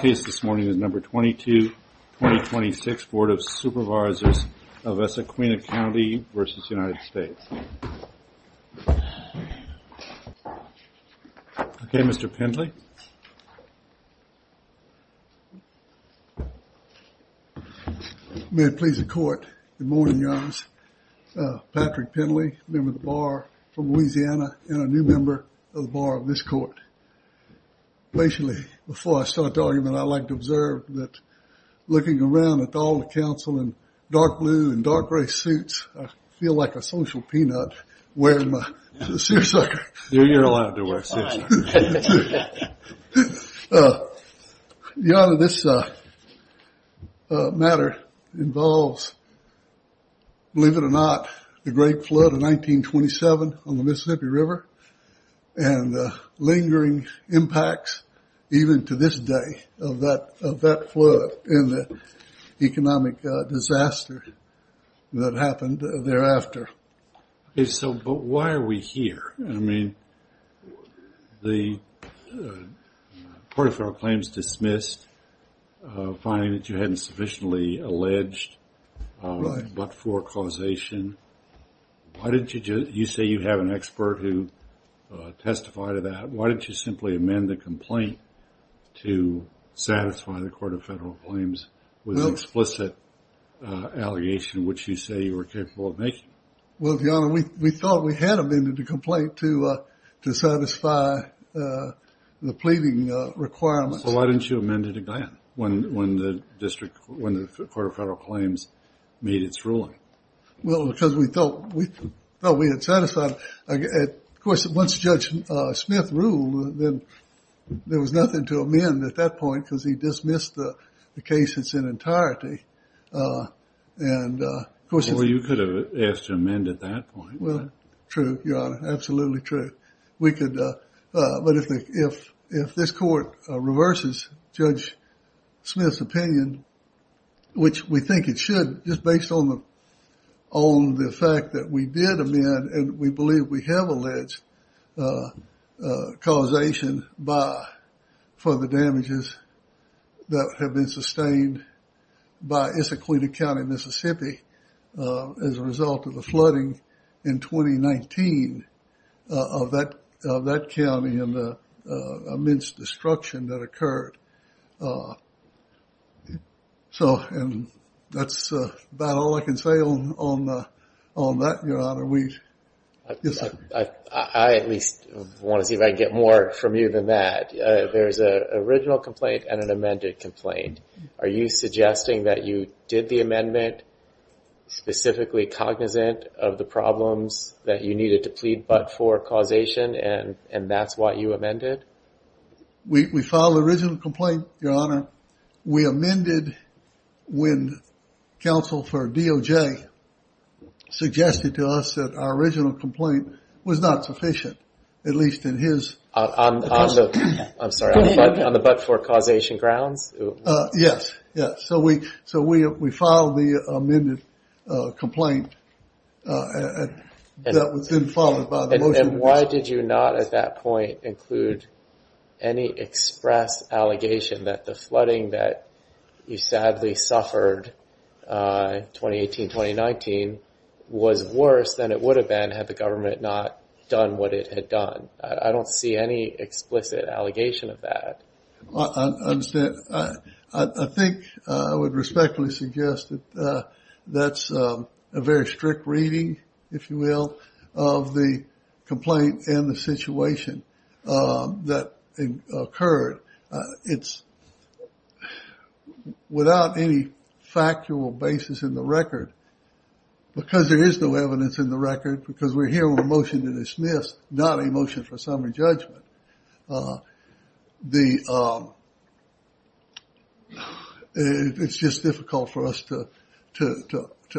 case this morning is number 22 2026 Board of Supervisors of Issaquena County v. United States. Okay, Mr. Pendley. May it please the court. Good morning, Your Honors. Patrick Pendley, a member of the Bar from Louisiana and a new member of the Bar of this court. Patiently, before I start the argument, I'd like to observe that looking around at all the counsel in dark blue and dark gray suits, I feel like a social peanut wearing my seersucker. You're not the great flood of 1927 on the Mississippi River and lingering impacts even to this day of that flood in the economic disaster that happened thereafter. Okay, so but why are we here? I mean, the party for our claims dismissed, finding that you hadn't sufficiently alleged but for causation. Why didn't you just you say you have an expert who testified to that? Why didn't you simply amend the complaint to satisfy the court of federal claims with explicit allegation which you say you were capable of making? Well, Your Honor, we thought we had amended the complaint to satisfy the pleading requirements. Why didn't you amend it again when the district, when the court of federal claims made its ruling? Well, because we thought we thought we had satisfied. Of course, once Judge Smith ruled, then there was nothing to amend at that point because he dismissed the case in its entirety. Or you could have asked to amend at that point. True, Your Honor, absolutely true. We could, but if this court reverses, Judge Smith's opinion, which we think it should just based on the on the fact that we did amend and we believe we have alleged causation by for the damages that have been sustained by Issaquah County, Mississippi as a result of the flooding in 2019 of that county and the destruction that occurred. So and that's about all I can say on that, Your Honor. I at least want to see if I get more from you than that. There's an original complaint and an amended complaint. Are you suggesting that you did the amendment specifically cognizant of the We filed the original complaint, Your Honor. We amended when counsel for DOJ suggested to us that our original complaint was not sufficient, at least in his... I'm sorry, on the Budford causation grounds? Yes, yes. So we filed the amended complaint and that was then followed by the motion. And why did you not at that point include any express allegation that the flooding that you sadly suffered in 2018-2019 was worse than it would have been had the government not done what it had done? I don't see any explicit allegation of that. I understand. I think I would respectfully suggest that that's a very strict reading, if you will, of the complaint and the situation that occurred. It's without any factual basis in the record because there is no evidence in the record because we're motion to dismiss, not a motion for summary judgment. It's just difficult for us to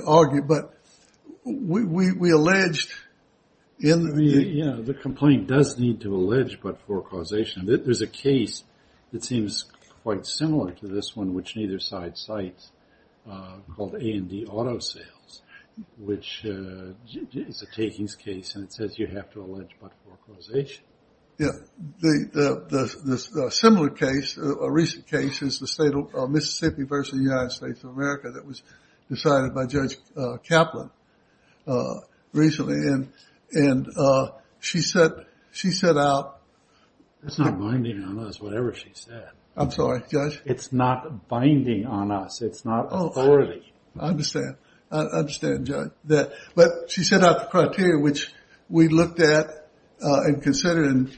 argue, but we alleged in the... Yeah, the complaint does need to allege Budford causation. There's a case that seems quite similar to this one, which neither side cites, called A&D Auto Sales, which is a takings case and it says you have to allege Budford causation. Yeah, the similar case, a recent case is the state of Mississippi versus the United States of America that was decided by Judge Kaplan recently. And she said out... It's not binding on us, whatever she said. I'm sorry, Judge? It's not binding on us. It's not authority. I understand. I understand, Judge. But she set out the criteria, which we looked at and considered and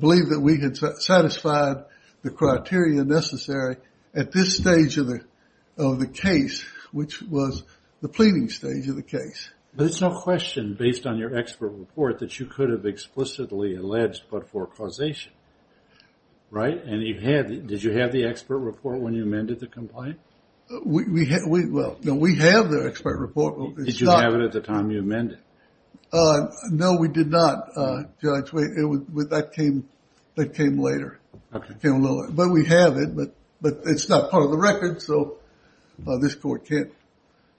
believed that we had satisfied the criteria necessary at this stage of the case, which was the pleading stage of the case. There's no question based on your expert report that you could have explicitly alleged Budford causation, right? And you had... Did you have the expert report when you amended the complaint? We have the expert report. Did you have it at the time you amended? No, we did not, Judge. That came later. But we have it, but it's not part of the record, so this court can't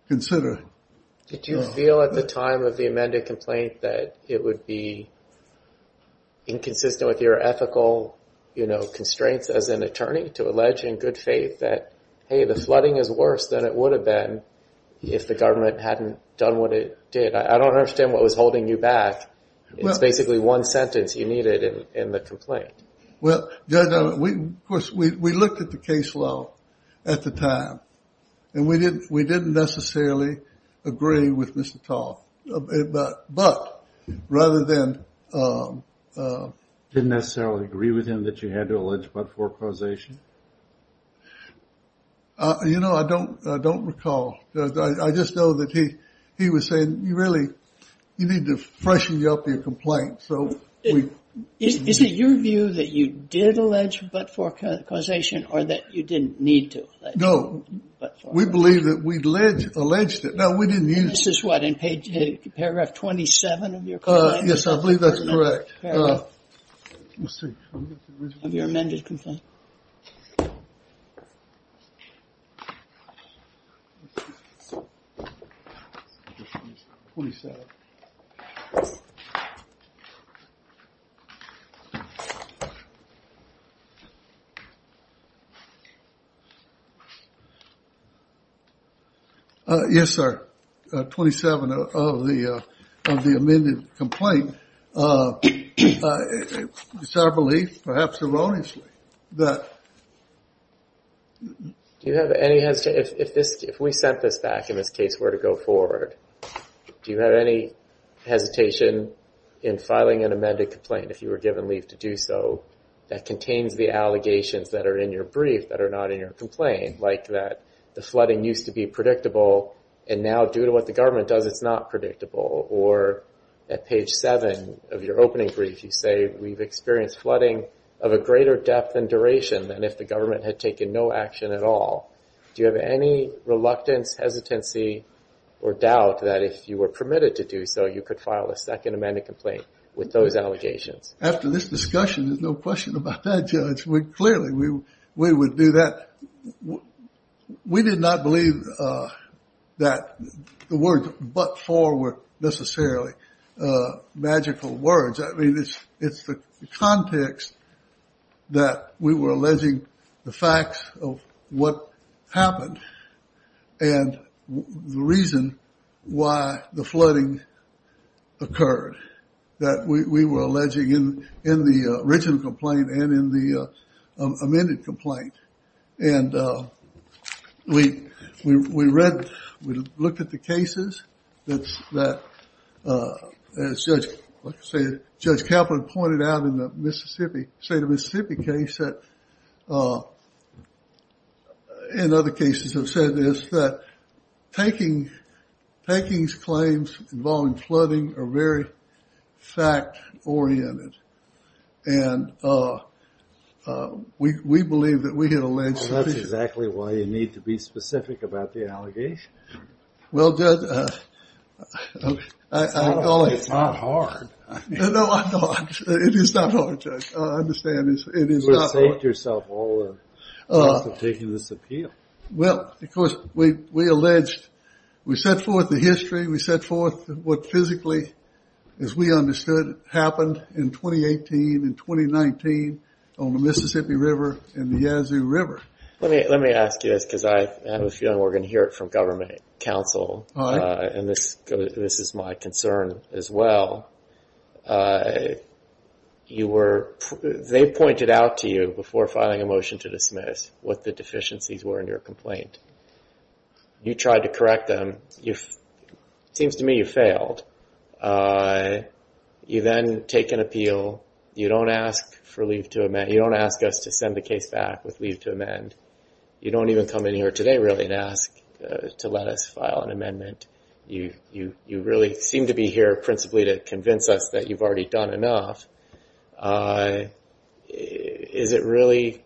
consider. Did you feel at the time of the amended complaint that it would be inconsistent with your ethical, you know, constraints as an attorney to allege in good faith that, hey, the flooding is worse than it would have been if the government hadn't done what it did? I don't understand what was holding you back. It's basically one sentence you needed in the complaint. Well, Judge, of course, we looked at the case law at the time and we didn't necessarily agree with Mr. Tall. But rather than... Didn't necessarily agree with him that you had to allege Budford causation? You know, I don't recall. I just know that he was saying you really you need to freshen up your complaint, so... Is it your view that you did allege Budford causation or that you didn't need to? No, we believe that we alleged it. Now, we didn't use... This is what, in paragraph 27 of your complaint? Yes, I believe that's correct. Let's see. Of your amended complaint. Yes, sir. 27 of the amended complaint. It's our belief, perhaps erroneously, that... Do you have any hesitation... If we sent this back, in this case, were to go forward, do you have any hesitation in filing an amended complaint if you were given leave to do so that contains the allegations that are in your brief that are not in your complaint? Like that the flooding used to be predictable and now, due to what the government does, it's not predictable? Or at page 7 of your opening brief, you say we've experienced flooding of a greater depth and duration than if the government had taken no action at all. Do you have any reluctance, hesitancy, or doubt that if you were permitted to do so, you could file a second amended complaint with those allegations? After this discussion, there's no question about that, Judge. Clearly, we would do that. We did not believe that the words but for were necessarily magical words. I mean, it's the context that we were alleging the facts of what happened and the reason why the flooding occurred that we were alleging in the original complaint and in the amended complaint. And we read, we looked at the cases that Judge Kaplan pointed out in the Mississippi, state of Mississippi case that, in other cases have said this, that tanking, tanking's claims involving flooding are very fact oriented. And we believe that we had alleged. That's exactly why you need to be specific about the allegation. Well, Judge. It's not hard. No, it is not hard, Judge. I understand. You've saved yourself all the risk of taking this appeal. Well, because we alleged, we set forth the history, we set forth what physically, as we understood, happened in 2018 and 2019 on the Mississippi River and the Yazoo Council. And this is my concern as well. They pointed out to you before filing a motion to dismiss what the deficiencies were in your complaint. You tried to correct them. It seems to me you failed. You then take an appeal. You don't ask for leave to amend. You don't ask us to send the case back with leave to amend. You don't even come in here today really and ask to let us file an amendment. You really seem to be here principally to convince us that you've already done enough. Is it really,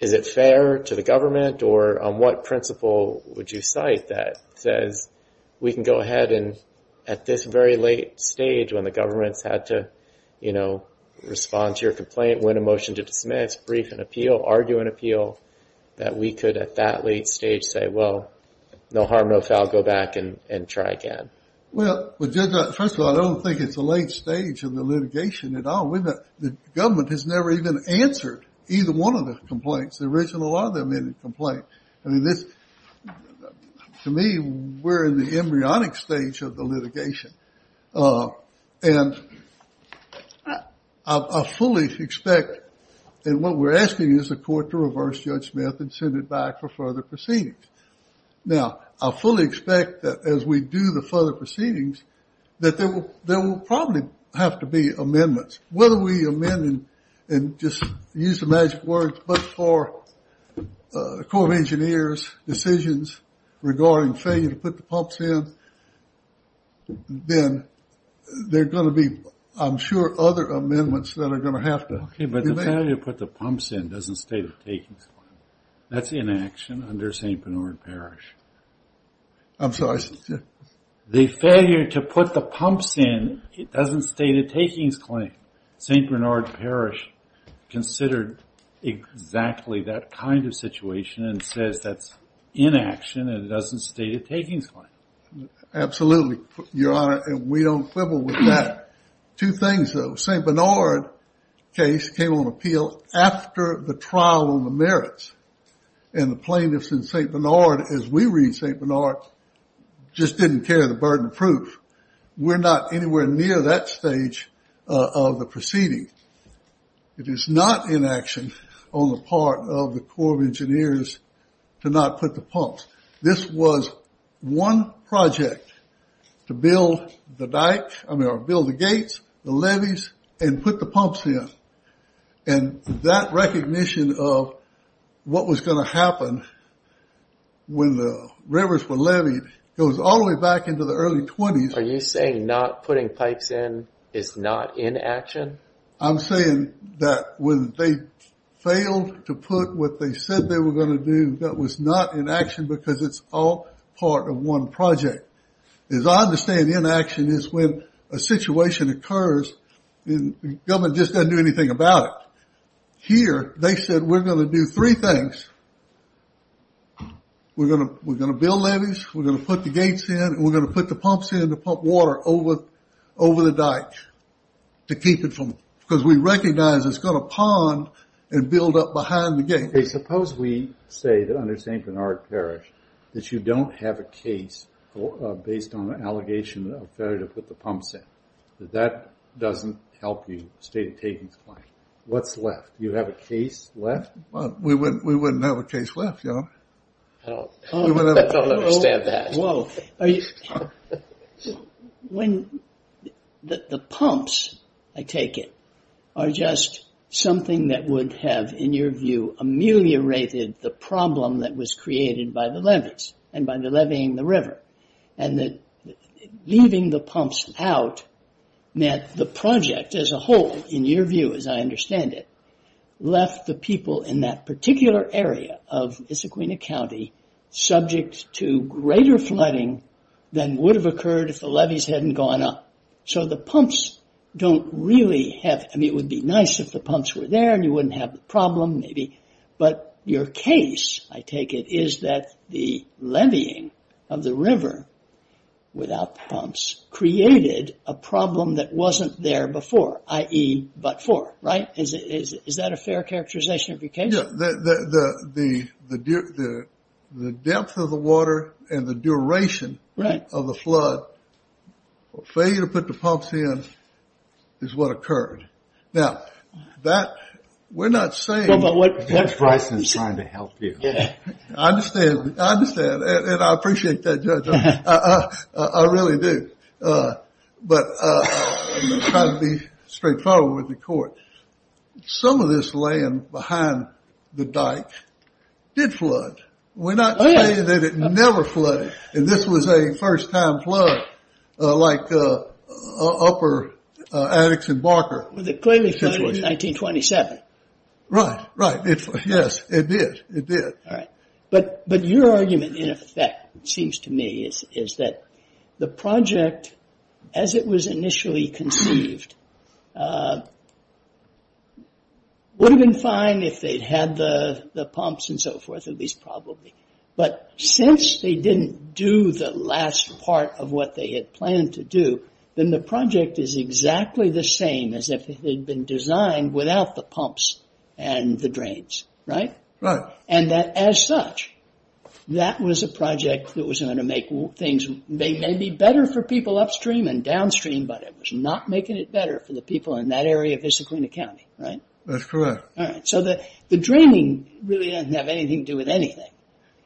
is it fair to the government or on what principle would you cite that says we can go ahead and at this very late stage when the government's had to respond to your complaint, win a motion to dismiss, brief an appeal, argue an appeal, that we could at that late stage say, well, no harm, no foul, go back and try again? Well, Judge, first of all, I don't think it's the late stage of the litigation at all. The government has never even answered either one of the complaints, the original or the amended complaint. To me, we're in the embryonic stage of the litigation. And I fully expect, and what we're asking is the court to reverse Judge Smith and send it back for further proceedings. Now, I fully expect that as we do the further proceedings that there will probably have to be amendments. Whether we amend and just use the magic words, but for the Corps of Engineers decisions regarding failure to put the pumps in, then there are going to be, I'm sure, other amendments that are going to have to be made. Okay, but the failure to put the pumps in doesn't state a takings claim. That's inaction under St. Bernard Parish. I'm sorry. The failure to put the pumps in, it doesn't state a takings claim. St. Bernard Parish considered exactly that kind of situation and says that's inaction, and it doesn't state a takings claim. Absolutely, Your Honor, and we don't quibble with that. Two things, though. St. Bernard case came on appeal after the trial on the merits, and the plaintiffs in St. Bernard, as we read St. Bernard, just didn't carry the burden of proof. We're not anywhere near that stage of the proceeding. It is not inaction on the part of the Corps of Engineers to not put the pumps. This was one project to build the gates, the levees, and put the pumps in, and that recognition of what was going to happen when the rivers were leveed goes all the way back into the early 20s. Are you saying not putting pipes in is not inaction? I'm saying that when they failed to put what they said they were going to do, that was not inaction because it's all part of one project. As I understand, inaction is when a situation occurs and the government just doesn't do anything about it. Here, they said we're going to do three things. We're going to build levees, we're going to put the gates in, and we're going to put the pumps in to pump water over the dike to keep it from, because we recognize it's going to pond and build up behind the gates. Suppose we say that under St. Bernard Parish that you don't have a case based on an allegation of failure to put the pumps in. That doesn't help you state We wouldn't have a case left, you know. I don't understand that. The pumps, I take it, are just something that would have, in your view, ameliorated the problem that was created by the levees and by leveeing the river. And leaving the pumps out meant the particular area of Issaquahna County subject to greater flooding than would have occurred if the levees hadn't gone up. It would be nice if the pumps were there and you wouldn't have the problem. Your case, I take it, is that the leveeing of the river without pumps created a problem that wasn't there before, i.e. but for, right? Is that a fair characterization of your case? Yeah, the depth of the water and the duration of the flood, failure to put the pumps in, is what occurred. Now, we're not saying- But what's Bryson trying to help you? I understand. And I appreciate that, Judge. I really do. But I'm trying to be straightforward with the court. Some of this land behind the dike did flood. We're not saying that it never flooded. And this was a first-time flood, like upper Addickson Barker. It clearly flooded in 1927. Right, right. Yes, it did. It did. All right. But your argument, in effect, seems to me is that the project, as it was initially conceived, would have been fine if they'd had the pumps and so forth, at least probably. But since they didn't do the last part of what they had planned to do, then the project is exactly the way it had been designed without the pumps and the drains, right? Right. And that, as such, that was a project that was going to make things maybe better for people upstream and downstream, but it was not making it better for the people in that area of Issaquahna County, right? That's correct. All right. So the draining really doesn't have anything to do with anything.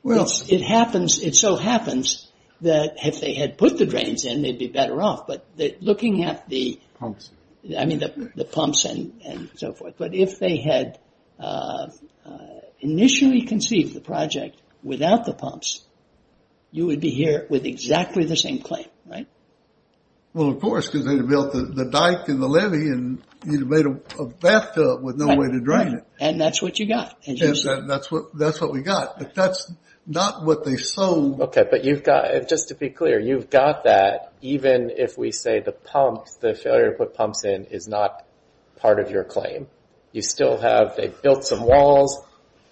It happens, it so happens that if they had put the drains in, they'd be better off. But looking at the- Pumps. I mean, the pumps and so forth. But if they had initially conceived the project without the pumps, you would be here with exactly the same claim, right? Well, of course, because they'd have built the dike and the levee and you'd have made a bathtub with no way to drain it. And that's what you got. That's what we got. But that's not what they sold. Okay. But you've got, just to be clear, you've got that even if we say the pumps, the failure to put pumps in is not part of your claim. You still have, they built some walls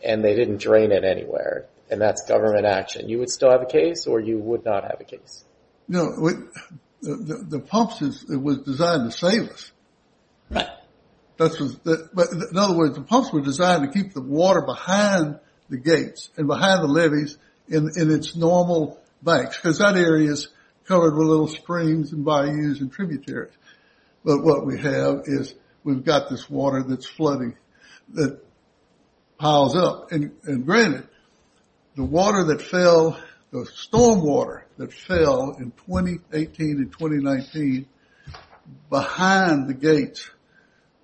and they didn't drain it anywhere. And that's government action. You would still have a case or you would not have a case? No, the pumps was designed to save us. Right. But in other words, the pumps were designed to keep the water behind the gates and behind the levees in its normal banks. Because that area is covered with little springs and bayous and tributaries. But what we have is we've got this water that's flooding, that piles up. And granted, the water that fell, the storm water that fell in 2018 and 2019 behind the gates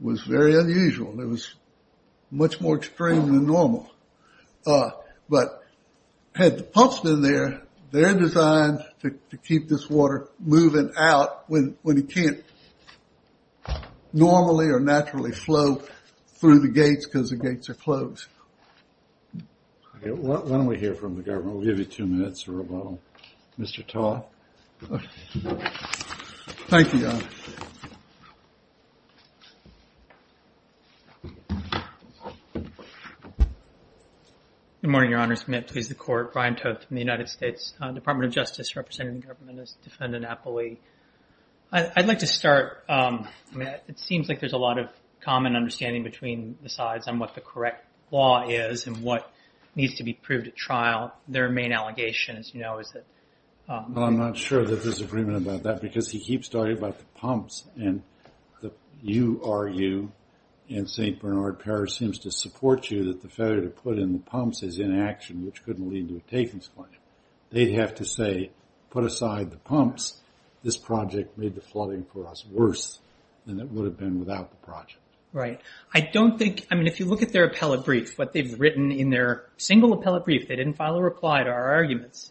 was very unusual. It was much more extreme than normal. But had the pumps been there, they're designed to keep this water moving out when you can't normally or naturally flow through the gates because the gates are closed. Okay. Why don't we hear from the government? We'll give you two minutes for a rebuttal. Mr. Todd. Okay. Thank you, John. Good morning, Your Honors. May it please the Court. Brian Toth from the United States Department of Justice, representing the government as defendant appellee. I'd like to start. It seems like there's a lot of common understanding between the sides on what the correct law is and what needs to be proved at trial. Their main allegation, as you know, is that I'm not sure that there's agreement about that because he keeps talking about the pumps and the URU and St. Bernard Parish seems to support you that the failure to put in the pumps is inaction, which couldn't lead to a takings claim. They'd have to say, put aside the pumps. This project made the flooding for us worse than it would have been without the project. Right. I don't think, I mean, if you look at their appellate brief, what they've written in their single appellate brief, they didn't file a reply to our arguments.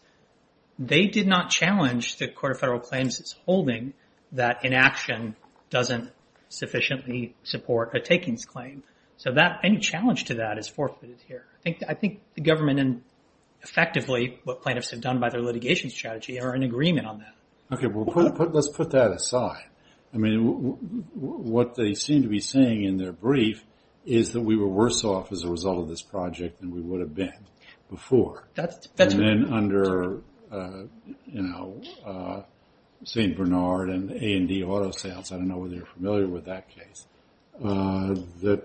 They did not challenge the Court of Federal Claims' holding that inaction doesn't sufficiently support a takings claim. So any challenge to that is forfeited here. I think the government and effectively what plaintiffs have done by their litigation strategy are in agreement on that. Okay. Well, let's put that aside. I mean, what they seem to be saying in their brief is that we were worse off as a result of this project than we would have been before. And then under, you know, St. Bernard and A&D Auto Sales, I don't know whether you're familiar with that case, that,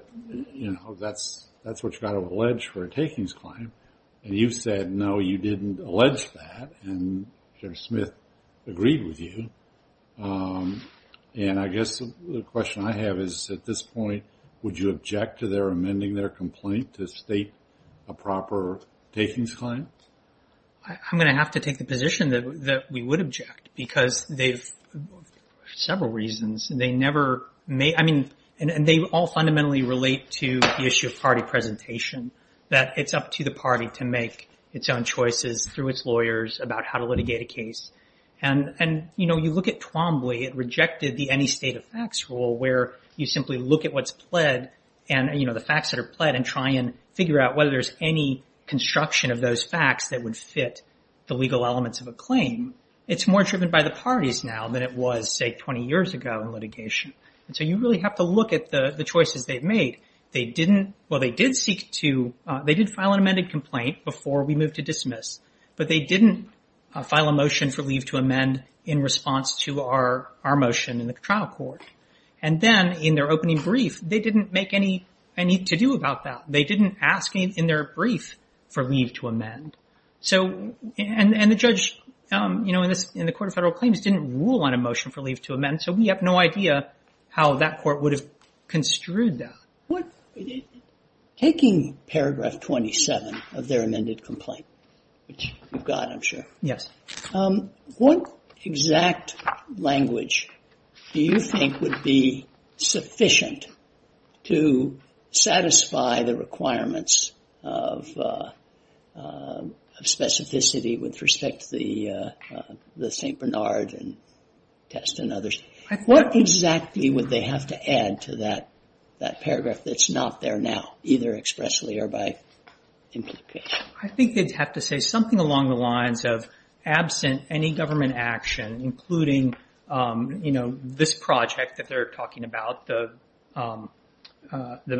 you know, that's what you've got to allege for a takings claim. And you've said, no, you didn't allege that. And Senator Smith agreed with you. And I guess the question I have is, at this point, would you object to their amending their takings claim? I'm going to have to take the position that we would object because they've, for several reasons, they never made, I mean, and they all fundamentally relate to the issue of party presentation, that it's up to the party to make its own choices through its lawyers about how to litigate a case. And, you know, you look at Twombly, it rejected the any state of facts rule where you simply look at what's pled and, you know, the facts that are pled and try and figure out whether there's any construction of those facts that would fit the legal elements of a claim. It's more driven by the parties now than it was, say, 20 years ago in litigation. And so you really have to look at the choices they've made. They didn't, well, they did seek to, they did file an amended complaint before we moved to dismiss, but they didn't file a motion for leave to amend in response to our motion in the trial court. And then in their opening brief, they didn't make any to do about that. They didn't ask in their brief for leave to amend. So, and the judge, you know, in the Court of Federal Claims didn't rule on a motion for leave to amend. So we have no idea how that court would have construed that. What, taking paragraph 27 of their amended complaint, which you've got, I'm sure. Yes. What exact language do you think would be sufficient to satisfy the requirements of specificity with respect to the St. Bernard test and others? What exactly would they have to add to that paragraph that's not there now, either expressly or by implication? I think they'd have to say something along the lines of absent any government action, including this project that they're talking about, the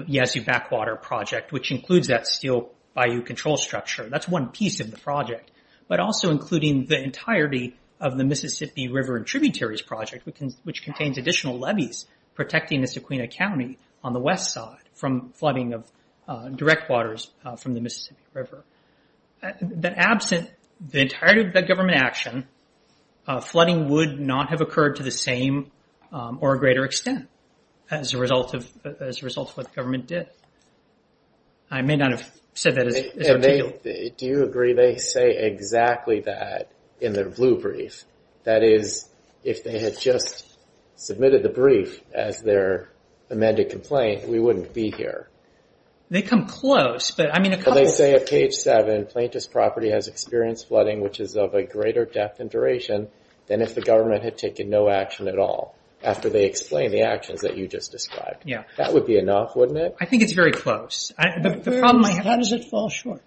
Yazoo Backwater Project, which includes that steel bayou control structure. That's one piece of the project, but also including the entirety of the Mississippi River and Tributaries Project, which contains additional levees protecting the Sequina County on the west side from flooding of direct waters from the Mississippi River. That absent the entirety of the government action, flooding would not have occurred to the same or greater extent as a result of what the government did. I may not have said that as articulate. Do you agree they say exactly that in their blue brief? That is, if they had just submitted the amended complaint, we wouldn't be here. They come close. They say at page seven, plaintiff's property has experienced flooding, which is of a greater depth and duration than if the government had taken no action at all, after they explain the actions that you just described. That would be enough, wouldn't it? I think it's very close. How does it fall short?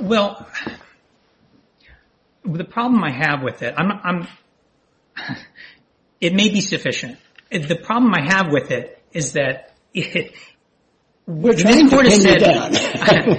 Well, the problem I have with it, it may be sufficient. The problem I have with it is that we're trying to pin down.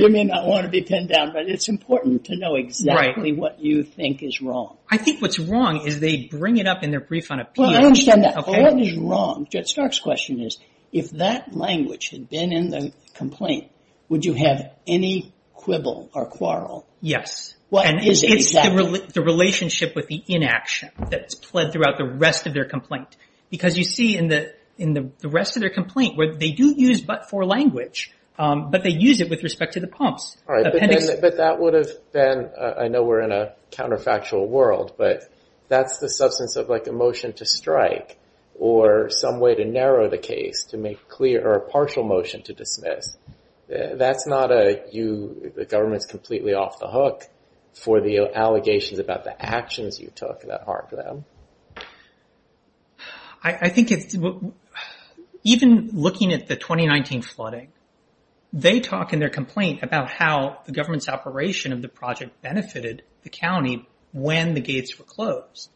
You may not want to be pinned down, but it's important to know exactly what you think is wrong. I think what's wrong is they bring it up in their brief on appeal. Well, I understand that. What is wrong, Judge Stark's question is, if that language had been the complaint, would you have any quibble or quarrel? Yes. It's the relationship with the inaction that's played throughout the rest of their complaint. Because you see in the rest of their complaint, they do use but-for language, but they use it with respect to the pumps. But that would have been, I know we're in a counterfactual world, but that's the substance of a motion to strike or some way to narrow the case to make clear or a partial motion to dismiss. That's not a, the government's completely off the hook for the allegations about the actions you took that harmed them. I think even looking at the 2019 flooding, they talk in their complaint about how the government's operation of the project benefited the county when the gates were closed.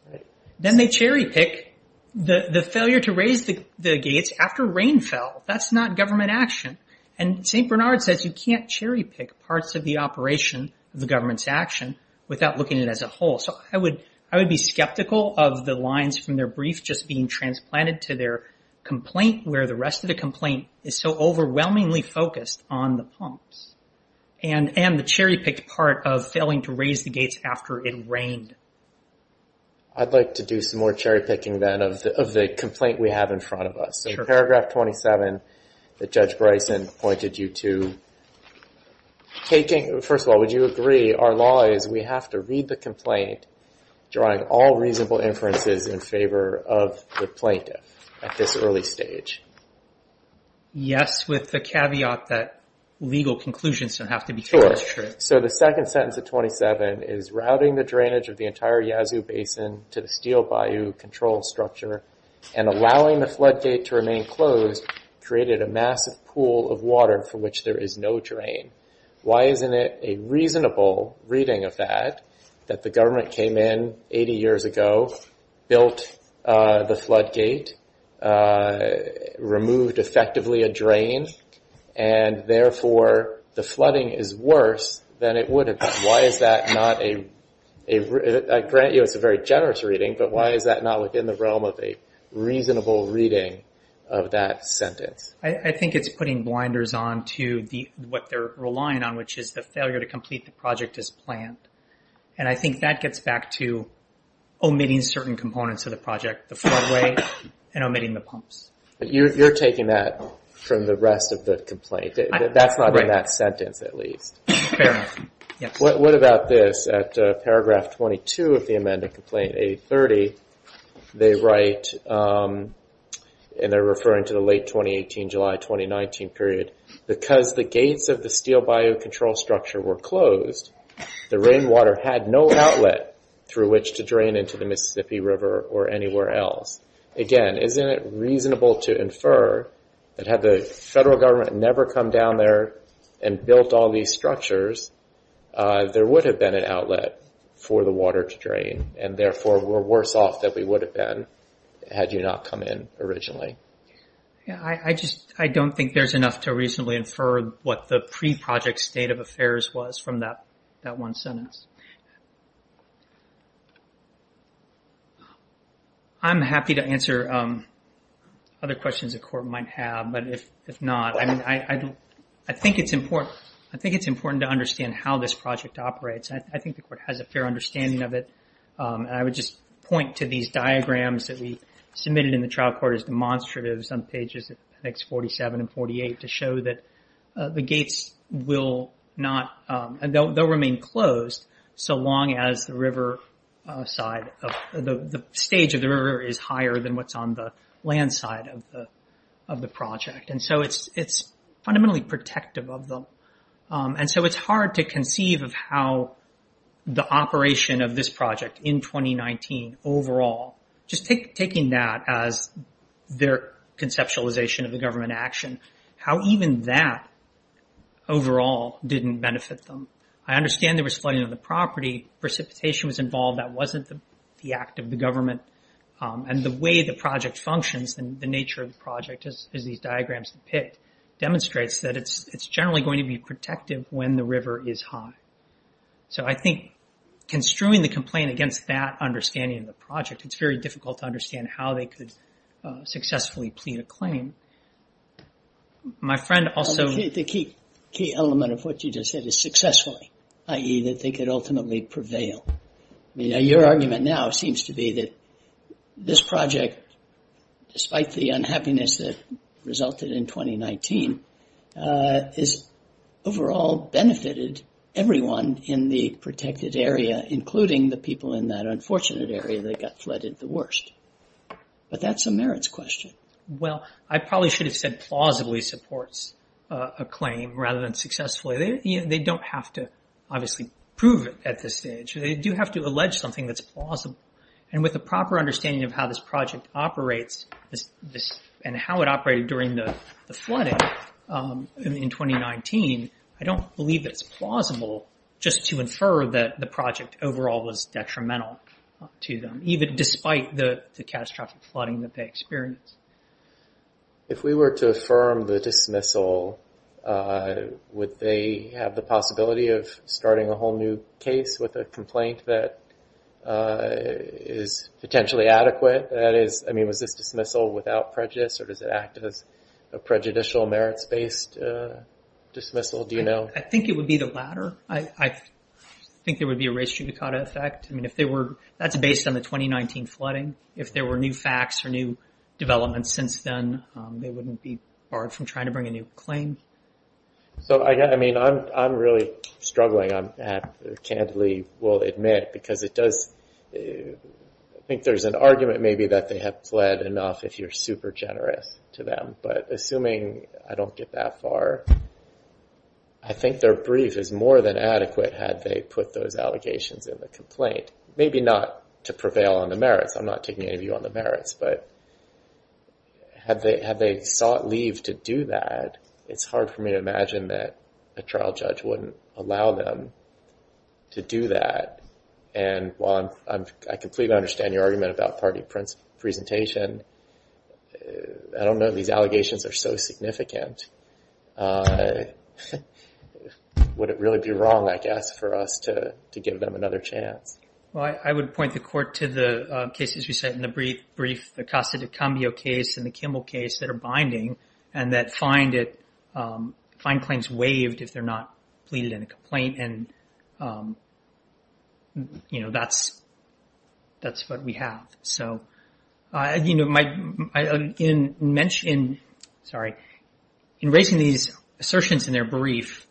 Then they cherry pick the failure to raise the gates after rain fell. That's not government action. And St. Bernard says you can't cherry pick parts of the operation of the government's action without looking at it as a whole. So I would be skeptical of the lines from their brief just being transplanted to their complaint where the rest of the complaint is so overwhelmingly focused on the pumps and the cherry picked part of failing to raise the gates after it rained. I'd like to do some more cherry picking then of the complaint we have in front of us. So paragraph 27 that Judge Bryson pointed you to, taking, first of all, would you agree our law is we have to read the complaint, drawing all reasonable inferences in favor of the plaintiff at this early stage? Yes, with the caveat that legal conclusions don't have to be taken as truth. So the second sentence of 27 is routing the drainage of the entire Yazoo Basin to the steel bayou control structure and allowing the floodgate to remain closed created a massive pool of water from which there is no drain. Why isn't it a reasonable reading of that that the government came in 80 years ago, built the floodgate, removed effectively a drain, and therefore the flooding is worse than it would have been? Why is that not a, I grant you it's a very generous reading, but why is that not within the realm of a reasonable reading of that sentence? I think it's putting blinders on to what they're relying on, which is the failure to complete the project as planned. And I think that gets back to omitting certain components of the project, the floodway, and omitting the pumps. You're taking that from the rest of the complaint. That's not in that sentence, at least. What about this? At paragraph 22 of the amended complaint, 830, they write, and they're referring to the late 2018, July 2019 period. Because the gates of the steel bayou control structure were closed, the rainwater had no outlet through which to drain into the Mississippi River or anywhere else. Again, isn't it reasonable to infer that had the federal government never come down there and built all these structures, there would have been an outlet for the water to drain, and therefore we're worse off than we would have been had you not come in originally? Yeah, I just, I don't think there's enough to reasonably infer what the pre-project state of affairs was from that one sentence. I'm happy to answer other questions the court might have, but if not, I mean, I don't I think it's important to understand how this project operates. I think the court has a fair understanding of it. I would just point to these diagrams that we submitted in the trial court as demonstratives on pages, I think it's 47 and 48, to show that the gates will not, they'll remain closed so long as the river side, the stage of the river is higher than what's on the land side of the project. It's fundamentally protective of them. It's hard to conceive of how the operation of this project in 2019 overall, just taking that as their conceptualization of the government action, how even that overall didn't benefit them. I understand there was flooding of the property, precipitation was involved, that wasn't the act of the government, and the way the project functions and the nature of the project is these diagrams that we picked, demonstrates that it's generally going to be protective when the river is high. So I think construing the complaint against that understanding of the project, it's very difficult to understand how they could successfully plead a claim. My friend also- The key element of what you just said is successfully, i.e. that they could ultimately prevail. Your argument now seems to be that this project, despite the unhappiness that resulted in 2019, has overall benefited everyone in the protected area, including the people in that unfortunate area that got flooded the worst. But that's a merits question. Well, I probably should have said plausibly supports a claim rather than successfully. They don't have to obviously prove it at this stage. They do have to allege something that's plausible. And with the proper understanding of how this project operates and how it operated during the flooding in 2019, I don't believe that it's plausible just to infer that the project overall was detrimental to them, even despite the catastrophic flooding that they experienced. If we were to affirm the dismissal, would they have the possibility of starting a whole new case with a complaint that is potentially adequate? That is, I mean, was this dismissal without prejudice or does it act as a prejudicial merits-based dismissal? Do you know? I think it would be the latter. I think there would be a race judicata effect. I mean, if they were- that's based on the 2019 flooding. If there were new facts or new developments since then, they wouldn't be barred from trying to bring a new claim. So I mean, I'm really struggling. I candidly will admit because it does- I think there's an argument maybe that they have pled enough if you're super generous to them. But assuming I don't get that far, I think their brief is more than adequate had they put those allegations in the complaint. Maybe not to prevail on the merits. I'm not taking any view on the merits. But had they sought leave to do that, it's hard for me to imagine that a trial judge wouldn't allow them to do that. And while I completely understand your argument about party presentation, I don't know these allegations are so significant. Would it really be wrong, I guess, for us to give them another chance? Well, I would point the court to the cases we said in the brief, the Acosta-Dicambio case and the Kimmel case that are binding and that find it- find claims waived if they're not pleaded in a complaint. And that's what we have. So in raising these assertions in their brief,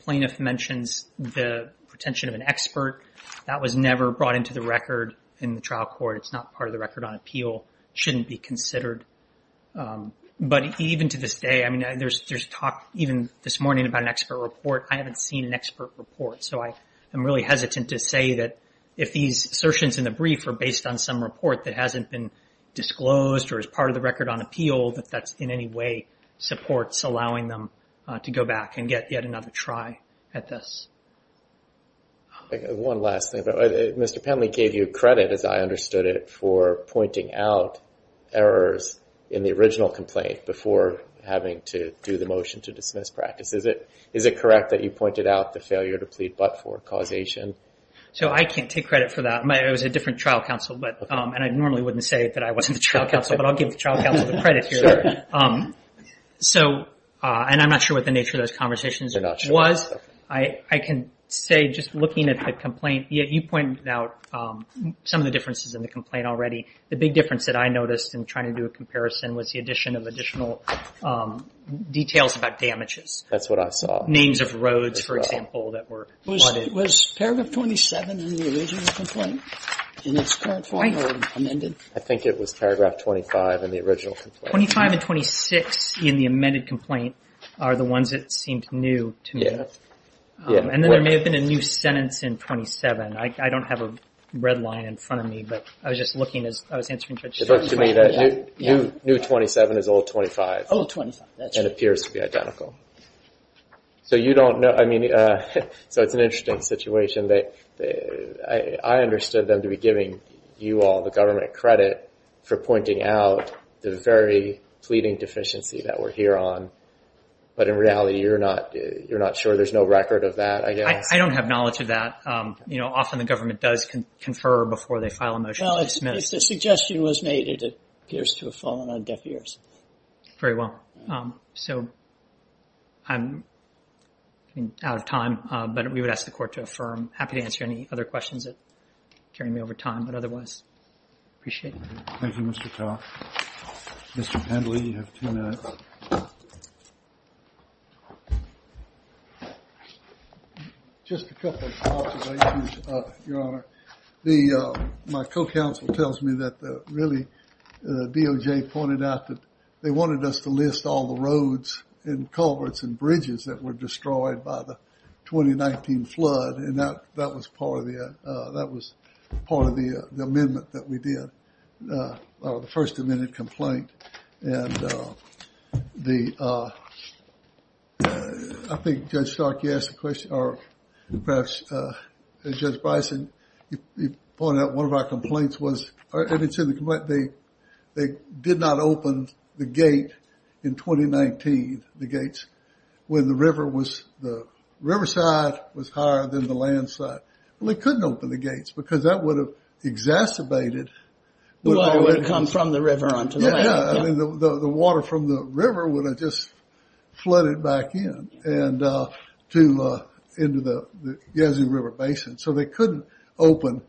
plaintiff mentions the pretension of an expert. That was never brought into the record in the trial court. It's not part of the record on appeal. It shouldn't be considered. But even to this day, I mean, there's talk even this morning about an expert report. I haven't seen an expert report. So I am really hesitant to say that if these assertions in the brief are based on some report that hasn't been disclosed or is part of the record on appeal, that that's in any way supports allowing them to go back and get yet another try at this. One last thing. Mr. Penley gave you credit, as I understood it, for pointing out errors in the original complaint before having to do the motion to dismiss practice. Is it correct that you pointed out the failure to plead but for causation? So I can't take credit for that. It was a different trial counsel, but- and I normally wouldn't say that I wasn't the trial counsel, but I'll give the trial counsel the credit here. So, and I'm not sure what the nature of those conversations was. I can say just looking at the complaint, yeah, you pointed out some of the differences in the complaint already. The big difference that I noticed in trying to do a comparison was the addition of additional details about damages. That's what I saw. Names of roads, for example, that were- Was paragraph 27 in the original complaint in its current form or amended? I think it was paragraph 25 in the original complaint. 25 and 26 in the amended complaint are the ones that seemed new to me. And then there may have been a new sentence in 27. I don't have a red line in front of me, but I was just looking as I was answering- It looked to me that new 27 is old 25. Old 25, that's right. And appears to be identical. So you don't know, I mean, so it's an interesting situation that I understood them to be giving you all the government credit for pointing out the very pleading deficiency that we're here on. But in reality, you're not sure? There's no record of that, I guess? I don't have knowledge of that. Often the government does confer before they file a motion to dismiss. Well, if the suggestion was made, it appears to have fallen on deaf ears. Very well. So I'm out of time, but we would ask the court to affirm. Happy to answer any other questions that carry me over time, but otherwise, appreciate it. Thank you, Mr. Ta. Mr. Pendley, you have two minutes. Just a couple of observations, Your Honor. My co-counsel tells me that really DOJ pointed out that they wanted us to list all the roads and culverts and bridges that were destroyed by the 2019 flood. And that was part of the amendment that we did, the first amendment complaint. And I think Judge Stark, you asked the question, or perhaps Judge Bison, you pointed out one of our complaints was, and it's in the complaint, they did not open the gate in 2019, the gates, when the river was, the riverside was higher than the landside. Well, they couldn't open the gates because that would have exacerbated. Water would have come from the river onto the land. Yeah, I mean, the water from the river would have just flooded back in, and to, into the Yazoo River Basin. So they couldn't open.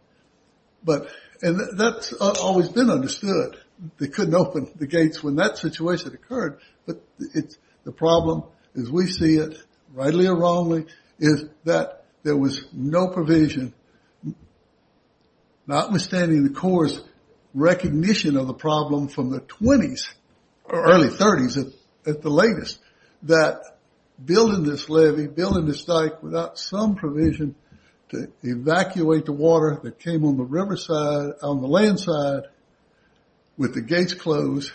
But, and that's always been understood. They couldn't open the gates when that situation occurred. But it's the problem, as we see it, rightly or wrongly, is that there was no provision, notwithstanding the Corps' recognition of the problem from the 20s, or early 30s, at the latest, that building this levee, building this dike without some provision to evacuate the water that came on the riverside, on the landside, with the gates closed,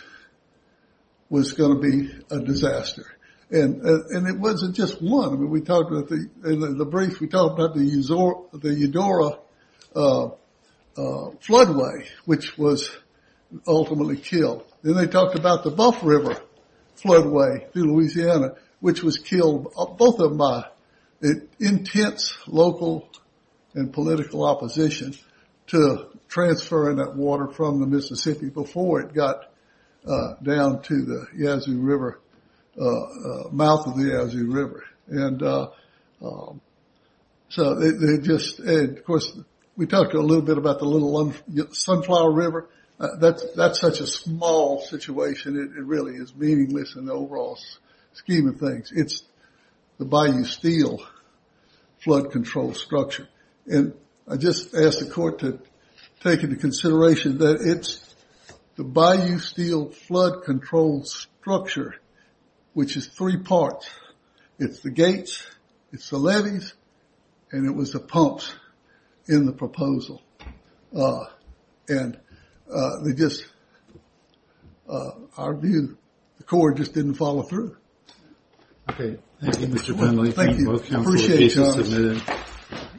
was going to be a disaster. And it wasn't just one. We talked about the, in the brief, we talked about the Eudora floodway, which was ultimately killed. Then they talked about the Buff River floodway through Louisiana, which was killed, both of them by intense local and political opposition to transferring that water from the Mississippi before it got down to the Yazoo River, mouth of the Yazoo River. And so they just, and of course, we talked a little bit about the Little Sunflower River. That's such a small situation, it really is meaningless in the overall scheme of things. It's the Bayou Steel flood control structure. And I just ask the court to take into consideration that it's the Bayou Steel flood control structure, which is three parts. It's the gates, it's the levees, and it was the pumps in the proposal. And they just, our view, the court just didn't follow through. Okay. Thank you, Mr. Finley. Thank you, appreciate it, Josh.